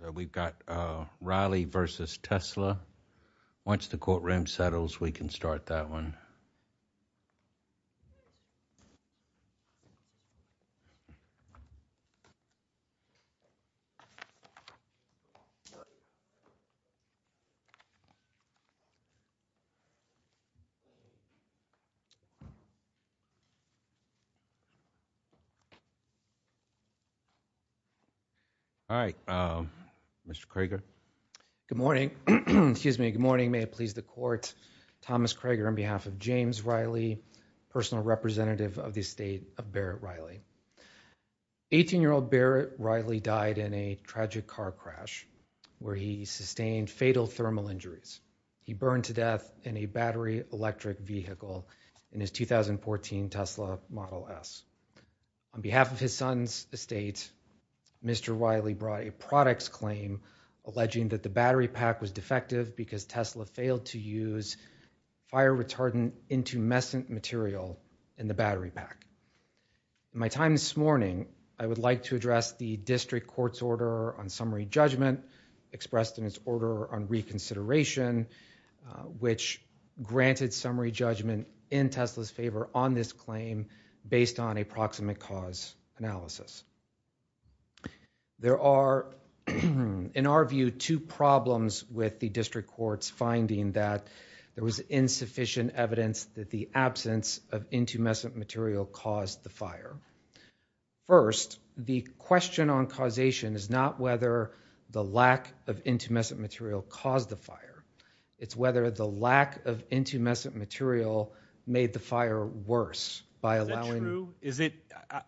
so we've got Riley versus Tesla once the courtroom settles we can start that one all right Mr. Kroger good morning excuse me good morning may it please the court Thomas Kroger on behalf of James Riley personal representative of the estate of Barrett Riley 18 year old Barrett Riley died in a tragic car crash where he sustained fatal thermal injuries he burned to death in a battery electric vehicle in his 2014 Tesla model s on behalf of his son's estate Mr. Riley brought a products claim alleging that the battery pack was defective because Tesla failed to use fire retardant intumescent material in the battery pack my time this morning I would like to address the district court's order on summary judgment expressed in its order on reconsideration which granted summary judgment in Tesla's favor on this claim based on a proximate cause analysis there are in our view two problems with the district court's finding that there was insufficient evidence that the absence of intumescent material caused the fire first the question on causation is not whether the lack of intumescent material caused the fire it's whether the lack of intumescent material made the fire worse by allowing is it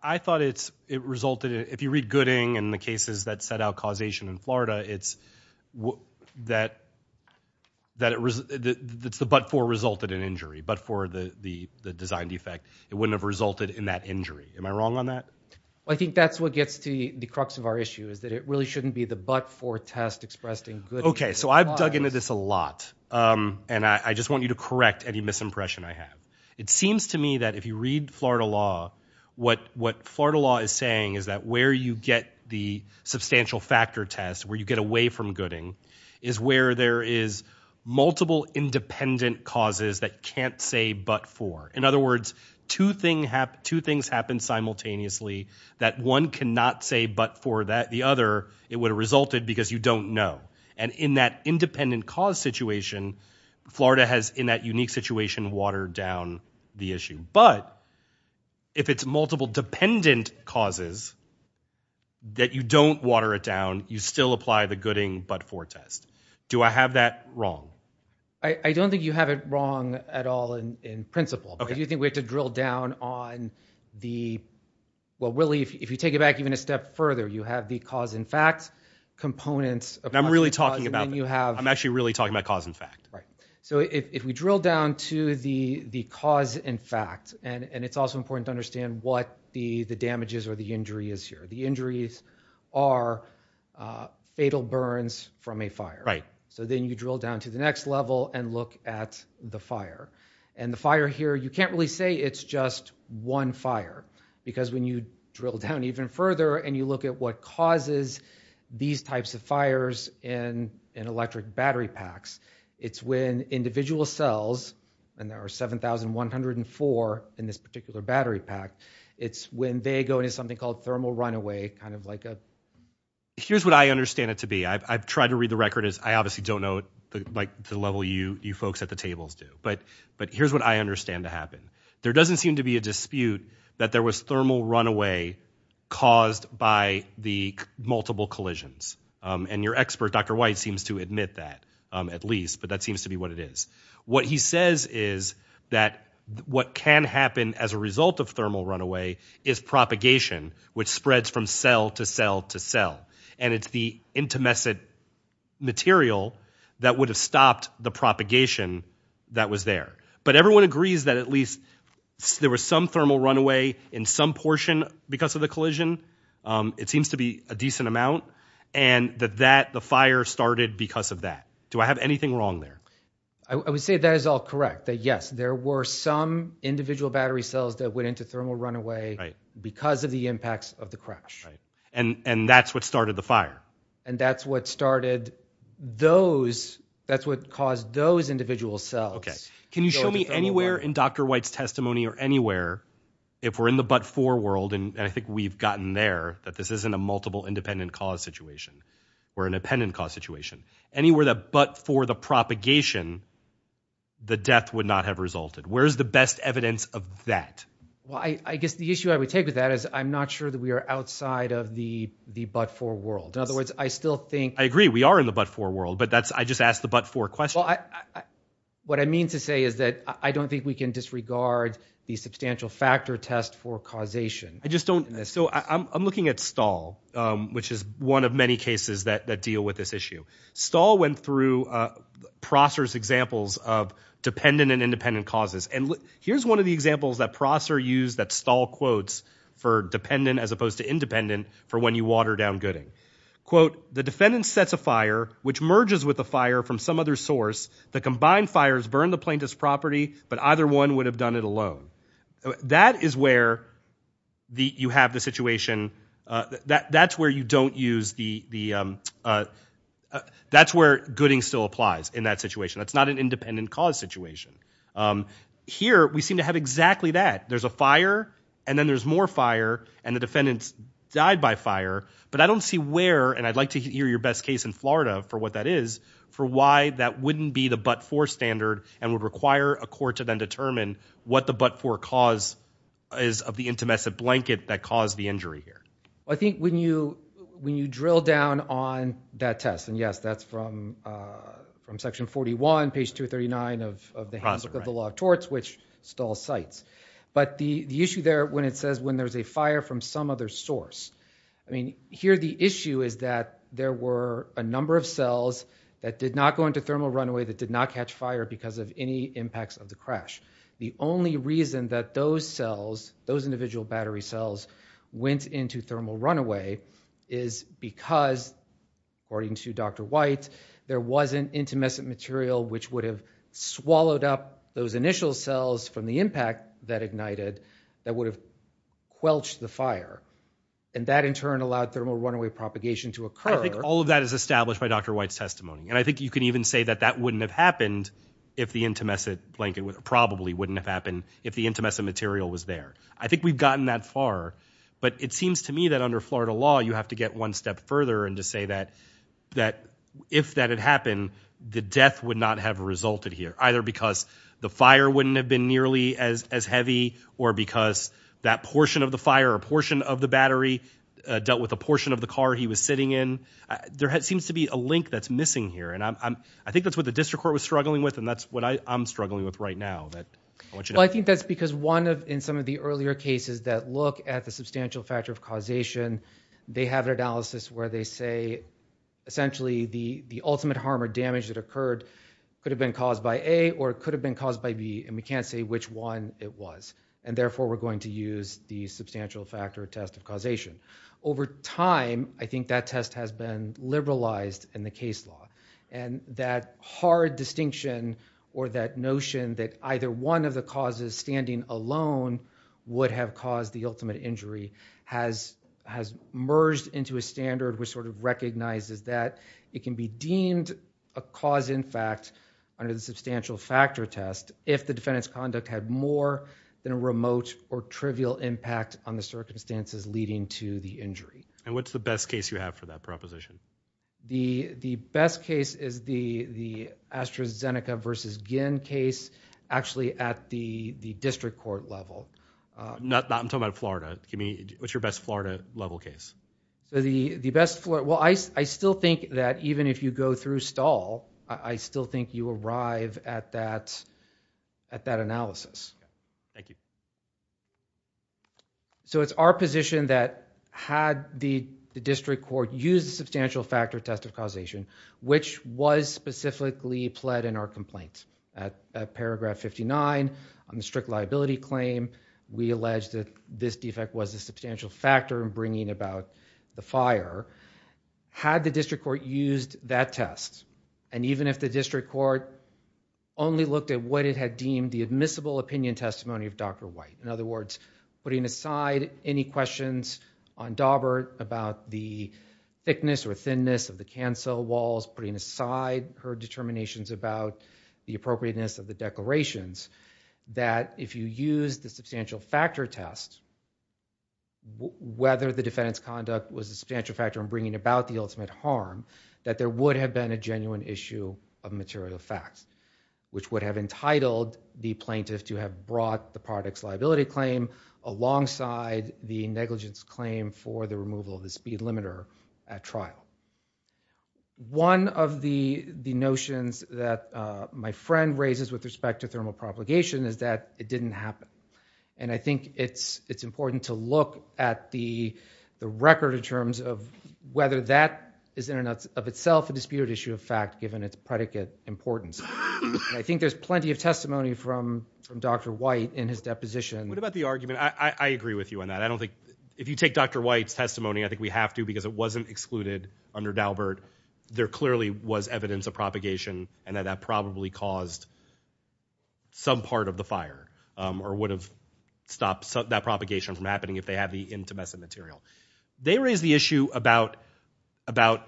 I thought it's it resulted if you read Gooding and the cases that set out causation in Florida it's that that it was that's the but for resulted in injury but for the the the design defect it wouldn't have resulted in that injury am I wrong on that I think that's what gets to the crux of our issue is that it really shouldn't be the but for test expressed in good okay so I've dug into this a lot um and I just want you to correct any misimpression I have it seems to me that if you read Florida law what what Florida law is saying is that where you get the substantial factor test where you get away from Gooding is where there is multiple independent causes that can't say but for in other words two thing have two things happen simultaneously that one cannot say but for that the other it would have resulted because you don't know and in that independent cause situation Florida has in that unique situation watered down the issue but if it's multiple dependent causes that you don't water it down you still apply the but for test do I have that wrong I I don't think you have it wrong at all in principle do you think we have to drill down on the well really if you take it back even a step further you have the cause in fact components I'm really talking about when you have I'm actually really talking about cause in fact right so if we drill down to the the cause in fact and and it's also important to understand what the the damages or the injury is here the injuries are fatal burns from a fire right so then you drill down to the next level and look at the fire and the fire here you can't really say it's just one fire because when you drill down even further and you look at what causes these types of fires in in electric battery packs it's when individual cells and there are 7104 in this particular battery pack it's when they go into something called thermal runaway kind of like a here's what I understand it to be I've tried to read the record as I obviously don't know like the level you you folks at the tables do but but here's what I understand to happen there doesn't seem to be a dispute that there was thermal runaway caused by the multiple collisions and your expert Dr. White seems to admit that um at least but that seems to be what it is what he says is that what can happen as a result of thermal runaway is propagation which spreads from cell to cell to cell and it's the intermessant material that would have stopped the propagation that was there but everyone agrees that at least there was some thermal runaway in some portion because of the collision um it seems to be a decent amount and that that the fire started because of that do I have anything wrong there I would say that is all correct that yes there were some individual battery cells that went into thermal runaway right because of the impacts of the crash right and and that's what started the fire and that's what started those that's what caused those individual cells okay can you show me anywhere in Dr. White's testimony or anywhere if we're in the but for world and I think we've gotten there that this isn't a multiple independent cause situation or independent cause situation anywhere that but for the propagation the death would not have resulted where's the best evidence of that well I I guess the issue I would take with that is I'm not sure that we are outside of the the but for world in other words I still think I agree we are in the but for world but that's I just asked the but for question what I mean to say is that I don't think we can disregard the substantial factor test for causation I just don't so I'm looking at stall which is one of many cases that that deal with this issue stall went through process examples of dependent and independent causes and here's one of the examples that processor use that stall quotes for dependent as opposed to independent for when you water down gooding quote the defendant sets a fire which merges with the fire from some other source the combined fires burn the plaintiff's property but either one would have done it alone that is where the you have the situation that that's where you don't use the the that's where gooding still applies in that situation it's not an independent cause situation here we seem to have exactly that there's a fire and then there's more fire and the defendants died by fire but I don't see where and I'd like to hear your best case in Florida for what that is for why that wouldn't be the but for standard and would require a court to then determine what the but for cause is of the intimacy blanket that caused the injury here I think when you when you drill down on that test and yes that's from uh from section 41 page 239 of the law of torts which stalls sites but the the issue there when it says when there's a fire from some other source I mean here the issue is that there were a number of cells that did not go into thermal runaway that did not catch fire because of any impacts of the crash the only reason that those cells those individual battery cells went into thermal runaway is because according to Dr. White there wasn't intimescent material which would have swallowed up those initial cells from the impact that ignited that would have quelched the fire and that in turn allowed thermal runaway propagation to occur I think all of that is established by Dr. White's testimony and I think you can even say that that wouldn't have happened if the intimescent blanket probably wouldn't have happened if the intimescent material was there I think we've gotten that far but it seems to me that under Florida law you have to get one step further and to say that that if that had happened the death would not have resulted here either because the fire wouldn't have been nearly as as heavy or because that portion of the fire or portion of the battery dealt with a portion of the car he was sitting in there seems to be a link that's missing here and I'm I think that's what the district court was struggling with and that's what I'm struggling with right now that well I think that's because one of in some of the earlier cases that look at the substantial factor of causation they have an analysis where they say essentially the the ultimate harm or damage that occurred could have been caused by a or it could have been caused by b and we can't say which one it was and therefore we're going to use the substantial factor test of causation over time I think that test has been liberalized in the case law and that hard distinction or that notion that either one of the causes standing alone would have caused the ultimate injury has has merged into a standard which sort of recognizes that it can be deemed a cause in fact under the substantial factor test if the defendant's conduct had more than a remote or trivial impact on the circumstances leading to the injury and what's the best case you have for that proposition the the best case is the the AstraZeneca versus case actually at the the district court level uh not that I'm talking about Florida give me what's your best Florida level case so the the best floor well I still think that even if you go through stall I still think you arrive at that at that analysis thank you so it's our position that had the district court use the substantial factor test of causation which was specifically pled in our complaint at paragraph 59 on the strict liability claim we alleged that this defect was a substantial factor in bringing about the fire had the district court used that test and even if the district court only looked at what it had deemed the admissible opinion testimony of Dr. White in other words putting aside any questions on Daubert about the thickness or the cancel walls putting aside her determinations about the appropriateness of the declarations that if you use the substantial factor test whether the defendant's conduct was a substantial factor in bringing about the ultimate harm that there would have been a genuine issue of material facts which would have entitled the plaintiff to have brought the product's liability claim alongside the negligence claim for the removal of the speed limiter at trial one of the the notions that my friend raises with respect to thermal propagation is that it didn't happen and I think it's it's important to look at the the record in terms of whether that is in and of itself a disputed issue of fact given its predicate importance I think there's plenty of testimony from from Dr. White in his deposition what about the argument I agree with you on that I don't think if you take Dr. White's testimony I think we have to because it wasn't excluded under Daubert there clearly was evidence of propagation and that that probably caused some part of the fire or would have stopped that propagation from happening if they had the intumescent material they raised the issue about about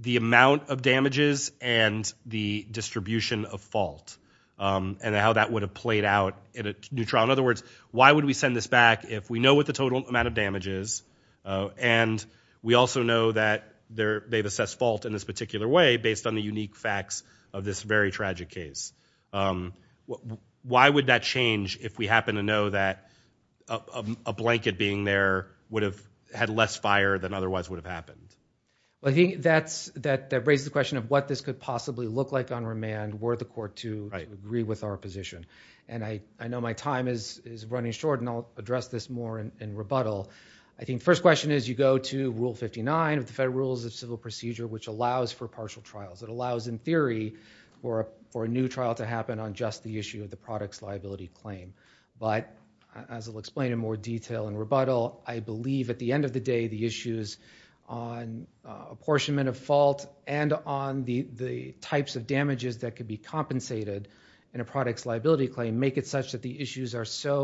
the amount of damages and the distribution of fault and how that would have played out in a new trial in other words why would we send this back if we know what the total amount of damage is and we also know that there they've assessed fault in this particular way based on the unique facts of this very tragic case why would that change if we happen to know that a blanket being there would have had less fire than otherwise would have happened I think that's that that raises the question of what this could possibly look like on remand were the court to agree with our position and I I know my time is running short and I'll address this more in rebuttal I think first question is you go to Rule 59 of the Federal Rules of Civil Procedure which allows for partial trials it allows in theory for a for a new trial to happen on just the issue of the product's liability claim but as I'll explain in more detail in rebuttal I believe at the end of the day the issues on apportionment of fault and on the the types of damages that could be compensated in a product's liability claim make it such that the issues are so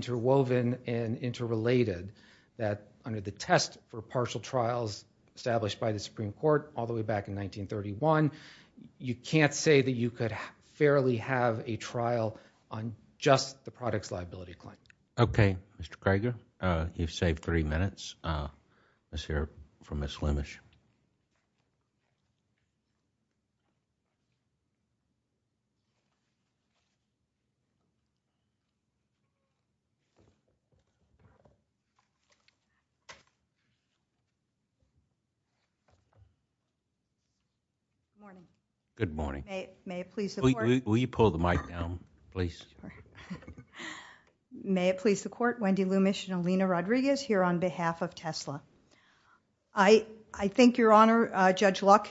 interwoven and interrelated that under the test for partial trials established by the Supreme Court all the way back in 1931 you can't say that you could fairly have a trial on just the product's liability claim okay Mr. Crager uh you've saved three minutes uh let's hear from Miss Lumish morning good morning may it please will you pull the mic down please sorry may it please the court Wendy Lumish and Alina Rodriguez here on behalf of Tesla I I think your honor uh Judge Luck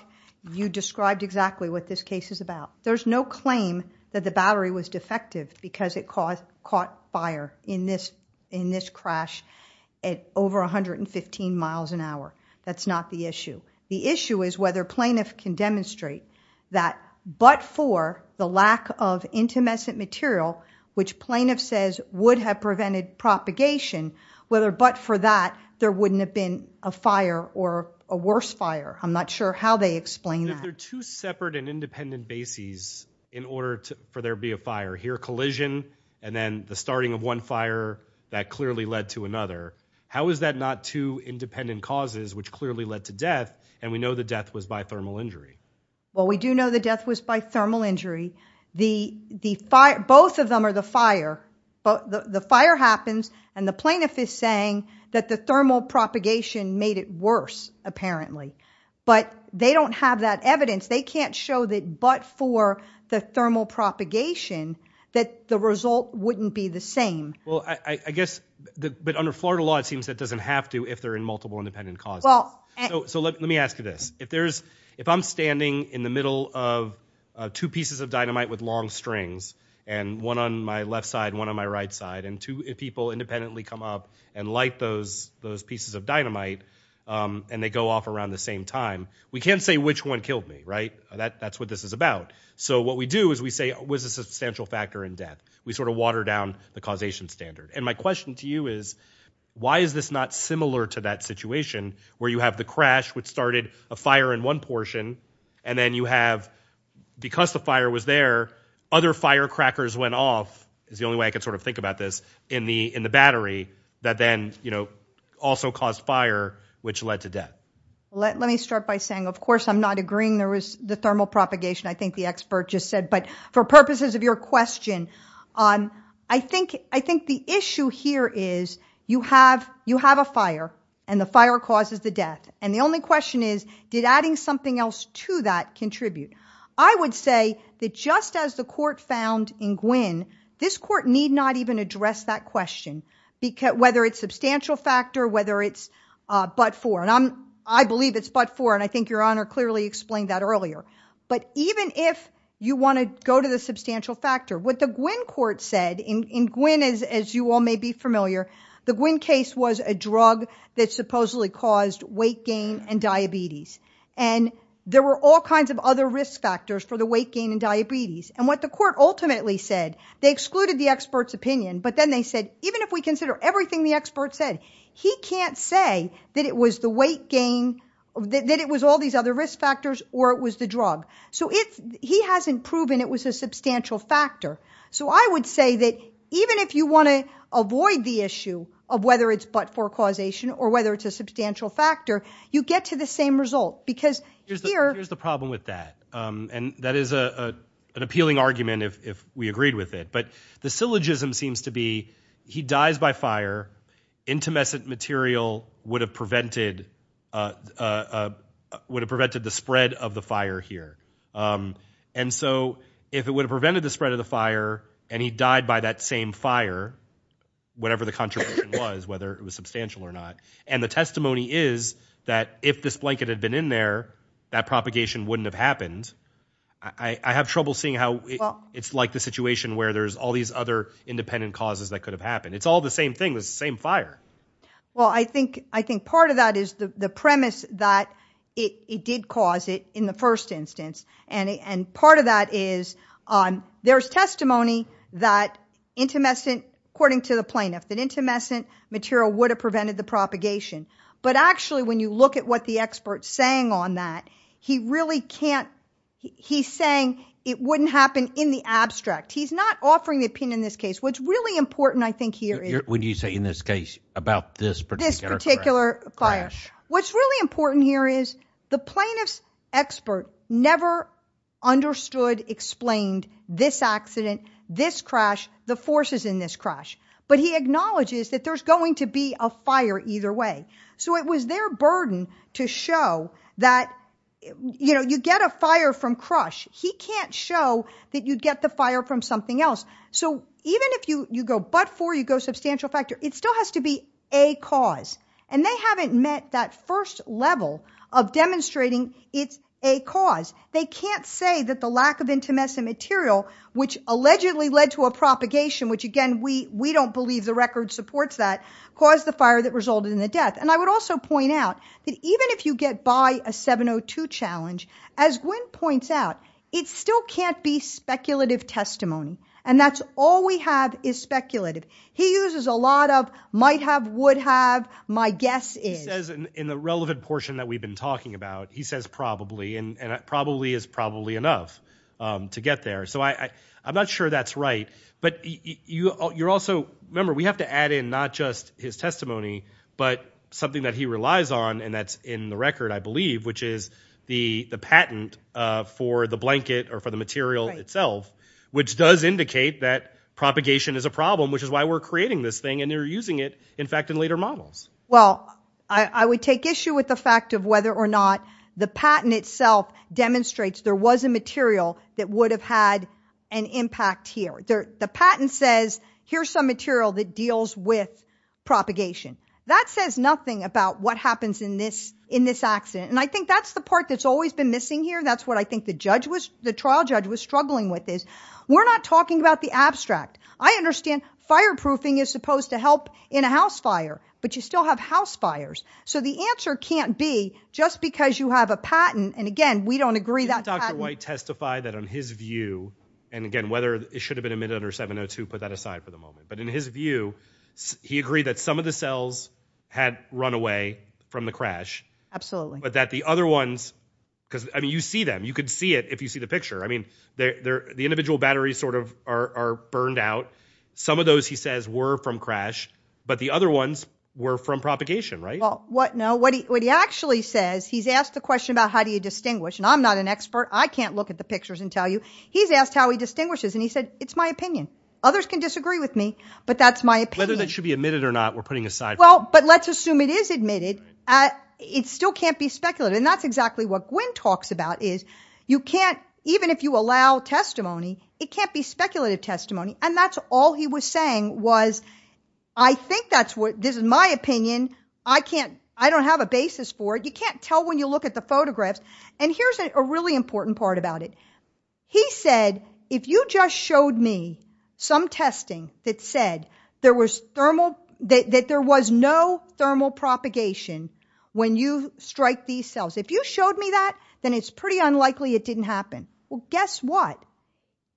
you described exactly what this case is about there's no claim that the battery was defective because it caused caught fire in this in this crash at over 115 miles an hour that's not the issue the issue is whether plaintiff can demonstrate that but for the lack of intimescent material which plaintiff says would have prevented propagation whether but for that there wouldn't have been a fire or a worse fire I'm not sure how they explain that they're two separate and independent bases in order to for there be a fire here collision and then the starting of one fire that clearly led to another how is that not two independent causes which clearly led to death and we know the death was by thermal injury well we do know the death was by thermal injury the the fire both of them are the fire but the fire happens and the plaintiff is saying that the thermal propagation made it worse apparently but they don't have that evidence they can't show that but for the thermal propagation that the result wouldn't be the same well I I guess the but under Florida law it seems that doesn't have to if they're in multiple independent cause well so let me ask you this if there's if I'm standing in the middle of two pieces of dynamite with long strings and one on my left side one on my right side and two people independently come up and light those those pieces of dynamite and they go off around the same time we can't say which one killed me right that that's what this is about so what we do is we say was a substantial factor in death we sort of water down the causation standard and my question to you is why is this not similar to that situation where you have the crash which started a fire in one portion and then you have because the fire was there other firecrackers went off is the only way I could sort of think about this in the in the battery that then you know also caused fire which led to death let me start by saying of course I'm not agreeing there was the thermal propagation I think the expert just said but for purposes of your question um I think I think the issue here is you have you have a fire and the fire causes the death and the only question is did adding something else to that contribute I would say that just as the court found in Gwynn this court need not even address that question because whether it's substantial factor whether it's uh but for and I'm I believe it's but for and I think your honor clearly explained that earlier but even if you want to go to the substantial factor what the Gwynn court said in Gwynn as as you all may be familiar the Gwynn case was a drug that supposedly caused weight gain and diabetes and there were all kinds of other risk factors for the weight gain and diabetes and what the court ultimately said they excluded the expert's opinion but then they said even if we consider everything the expert said he can't say that it was the weight gain that it was all these other risk factors or it was the drug so if he hasn't proven it was a substantial factor so I would say that even if you want to avoid the issue of whether it's but for causation or whether it's a substantial factor you get to the same result because here's the problem with that um and that is a an appealing argument if if we agreed with it but the syllogism seems to be he dies by fire intimescent material would have prevented uh uh would have prevented the spread of the fire here um and so if it would have prevented the spread of the fire and he died by that same fire whatever the contribution was whether it was substantial or not and the testimony is that if this blanket had been in there that propagation wouldn't have happened I I have trouble seeing how it's like the situation where there's all these other independent causes that could have happened it's all the same thing the same fire well I think I think part of that is the the premise that it it did cause it in the first instance and and part of that is um there's testimony that intimescent according to the plaintiff that intimescent material would have prevented the propagation but actually when you look at what the expert's saying on that he really can't he's saying it wouldn't happen in the abstract he's not offering the opinion in this case what's really important I think here is when you say in this case about this particular particular fire what's really important here is the plaintiff's expert never understood explained this accident this crash the forces in this crash but he acknowledges that there's going to be a fire either way so it was their burden to show that you know you get a fire from crush he can't show that you'd get the fire from something else so even if you you go but for you go substantial factor it still has to be a cause and they haven't met that first level of demonstrating it's a cause they can't say that the lack of intimescent material which allegedly led to a propagation which again we we don't believe the record supports that caused the fire that resulted in the death and I would also point out that even if you get by a 702 challenge as Gwen points out it still can't be speculative testimony and that's all we have is speculative he uses a lot of might have would have my guess is says in the relevant portion that we've been talking about he says probably and probably is probably enough to get there so I I'm not sure that's right but you you're also remember we have to add in not just his testimony but something that he relies on and that's in the record I believe which is the the patent for the blanket or for the material itself which does indicate that propagation is a problem which is why we're creating this thing and they're using it in fact in later models well I I would take issue with the fact of whether or not the patent itself demonstrates there was a material that would have had an impact here there the patent says here's some material that deals with propagation that says nothing about what happens in this in this accident and I think that's the part that's always been missing here that's what I think the judge was the trial judge was struggling with is we're not talking about the abstract I understand fireproofing is supposed to help in a house fire but you still have house fires so the answer can't be just because you have a patent and again we don't agree that dr white testified that on his view and again whether it should have been admitted under 702 put that aside for the moment but in his view he agreed that some of the cells had run away from the crash absolutely but that the other ones because I mean you see them you could see it if you see the picture I mean they're the individual batteries sort of are burned out some of those he says were from crash but the other ones were from propagation right well what no what he actually says he's asked the question about how do you distinguish and I'm not an expert I can't look at the pictures and tell you he's asked how he distinguishes and he said it's my opinion others can disagree with me but that's my opinion whether that should be admitted or not we're putting aside well but let's assume it is admitted uh it still can't be speculated and that's exactly what Gwynne talks about is you can't even if you allow testimony it can't be speculative testimony and that's all he was saying was I think that's what this is my opinion I can't I don't have a basis for it you can't tell when you look at the photographs and here's a really important part about it he said if you just showed me some testing that said there was thermal that there was no thermal propagation when you strike these cells if you showed me that then it's pretty unlikely it didn't happen well guess what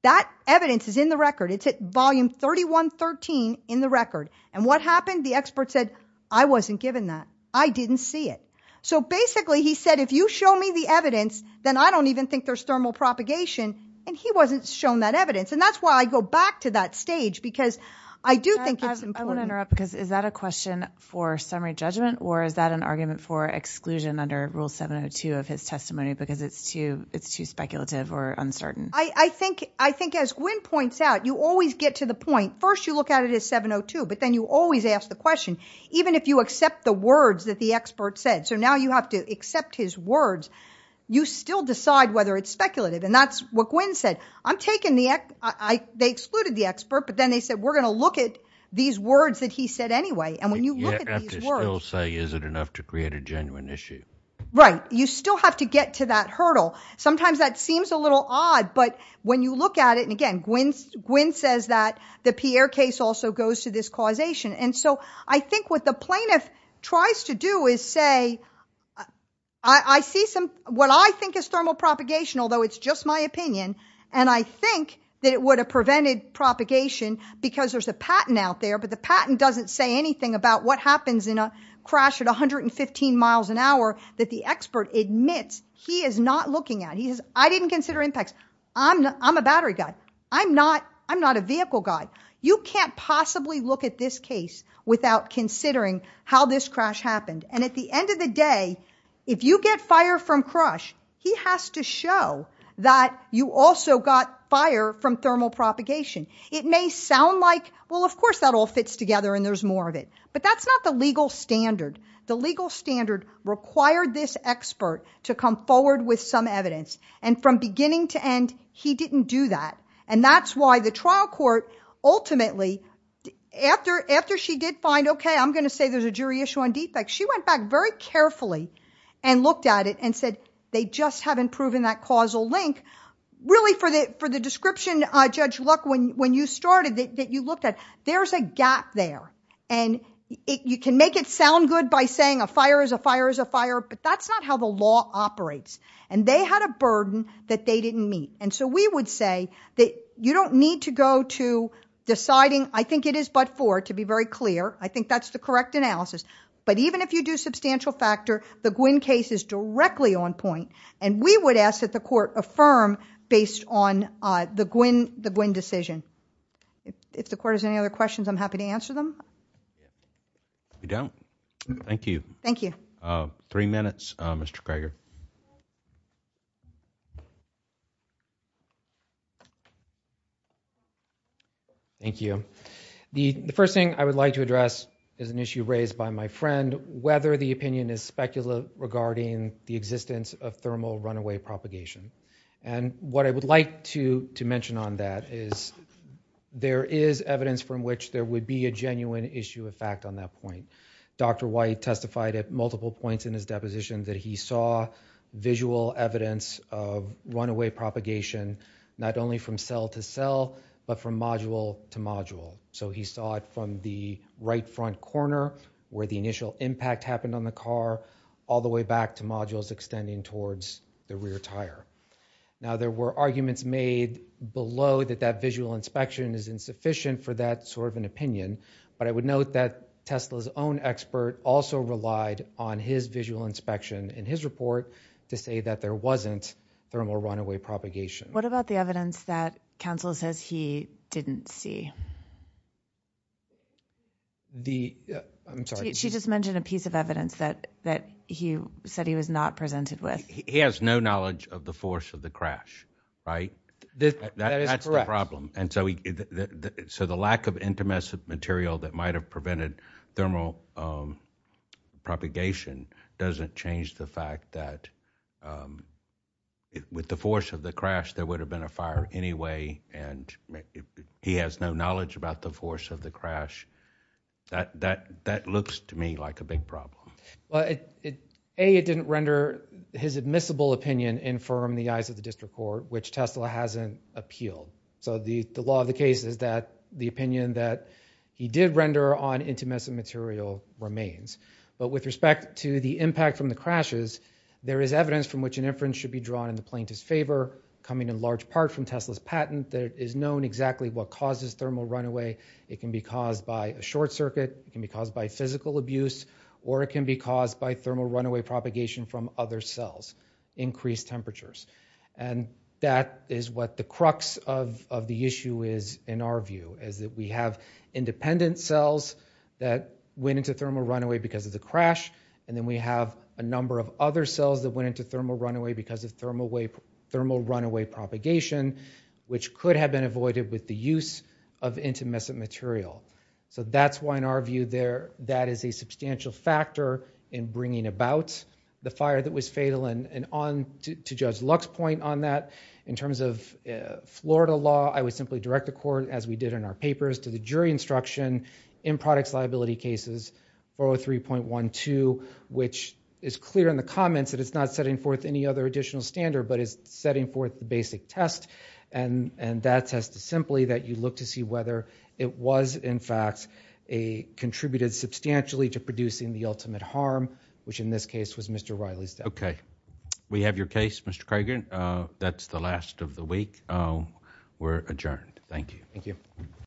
that evidence is in the record it's at volume 31 13 in the record and what happened the expert said I wasn't given that I didn't see it so basically he said if you show me the evidence then I don't even think there's thermal propagation and he wasn't shown that evidence and that's why I go back to that stage because I do think it's important I want to interrupt because is that a question for summary judgment or is that an argument for exclusion under rule 702 of his testimony because it's too it's too speculative or uncertain I I think I think as Gwynne points out you always get to the point first you look at it as 702 but then you always ask the question even if you accept the words that the expert said so now you have to accept his words you still decide whether it's speculative and that's what Gwynne said I'm taking the I they excluded the expert but then they said we're going to look at these words that he said anyway and when you look at these words you have to still say is it enough to create a genuine issue right you still have to get to that hurdle sometimes that seems a little odd but when you look at it and again Gwynne Gwynne says that the Pierre case also goes to this causation and so I think what the plaintiff tries to do is say I I see some what I think is thermal propagation although it's just my opinion and I think that it would have prevented propagation because there's a patent out there but the patent doesn't say anything about what happens in a crash at 115 miles an hour that the expert admits he is not looking at he says I didn't consider impacts I'm I'm a battery guy I'm not I'm not a vehicle guy you can't possibly look at this case without considering how this crash happened and at the end of the day if you get fire from crush he has to show that you also got fire from thermal propagation it may sound like well of course that all fits together and there's more of it but that's not the legal standard the legal standard required this expert to come forward with some evidence and from beginning to end he didn't do that and that's why the trial court ultimately after after she did find okay I'm going to say there's a jury issue on defects she went back very carefully and looked at it and said they just haven't proven that causal link really for the for the description uh Judge Luck when when you started that you looked at there's a gap there and it you can make it sound good by saying a fire is a fire but that's not how the law operates and they had a burden that they didn't meet and so we would say that you don't need to go to deciding I think it is but for to be very clear I think that's the correct analysis but even if you do substantial factor the Gwin case is directly on point and we would ask that the court affirm based on uh the Gwin the Gwin decision if the court has other questions I'm happy to answer them you don't thank you thank you uh three minutes uh Mr. Greger thank you the the first thing I would like to address is an issue raised by my friend whether the opinion is speculative regarding the existence of thermal runaway propagation and what I would like to to mention on that is there is evidence from which there would be a genuine issue of fact on that point Dr. White testified at multiple points in his deposition that he saw visual evidence of runaway propagation not only from cell to cell but from module to module so he saw it from the right front corner where the initial impact happened on the car all the way back to modules extending towards the rear tire now there were arguments made below that that visual inspection is insufficient for that sort of an opinion but I would note that Tesla's own expert also relied on his visual inspection in his report to say that there wasn't thermal runaway propagation what about the evidence that counsel says he didn't see the I'm sorry she just mentioned a piece of evidence that that he said he was not presented with he has no knowledge of the force of the crash right that that's the problem and so he so the lack of intermessive material that might have prevented thermal um propagation doesn't change the fact that um with the force of the crash there would have been a fire anyway and he has no knowledge about the force of the crash that that that looks to me like a big problem well it a it didn't render his admissible opinion infirm the eyes of the district court which Tesla hasn't appealed so the the law of the case is that the opinion that he did render on intermissive material remains but with respect to the impact from the crashes there is evidence from which an inference should be drawn in the plaintiff's favor coming in large part from patent that is known exactly what causes thermal runaway it can be caused by a short circuit it can be caused by physical abuse or it can be caused by thermal runaway propagation from other cells increased temperatures and that is what the crux of of the issue is in our view is that we have independent cells that went into thermal runaway because of the crash and then we have a number of other cells that went into thermal runaway because of thermal way thermal runaway propagation which could have been avoided with the use of intermissive material so that's why in our view there that is a substantial factor in bringing about the fire that was fatal and and on to judge luck's point on that in terms of florida law i would simply direct the court as we did in our to the jury instruction in products liability cases 403.12 which is clear in the comments that it's not setting forth any other additional standard but is setting forth the basic test and and that test is simply that you look to see whether it was in fact a contributed substantially to producing the ultimate harm which in this case was mr reilly's okay we have your case that's the last of the week we're adjourned thank you thank you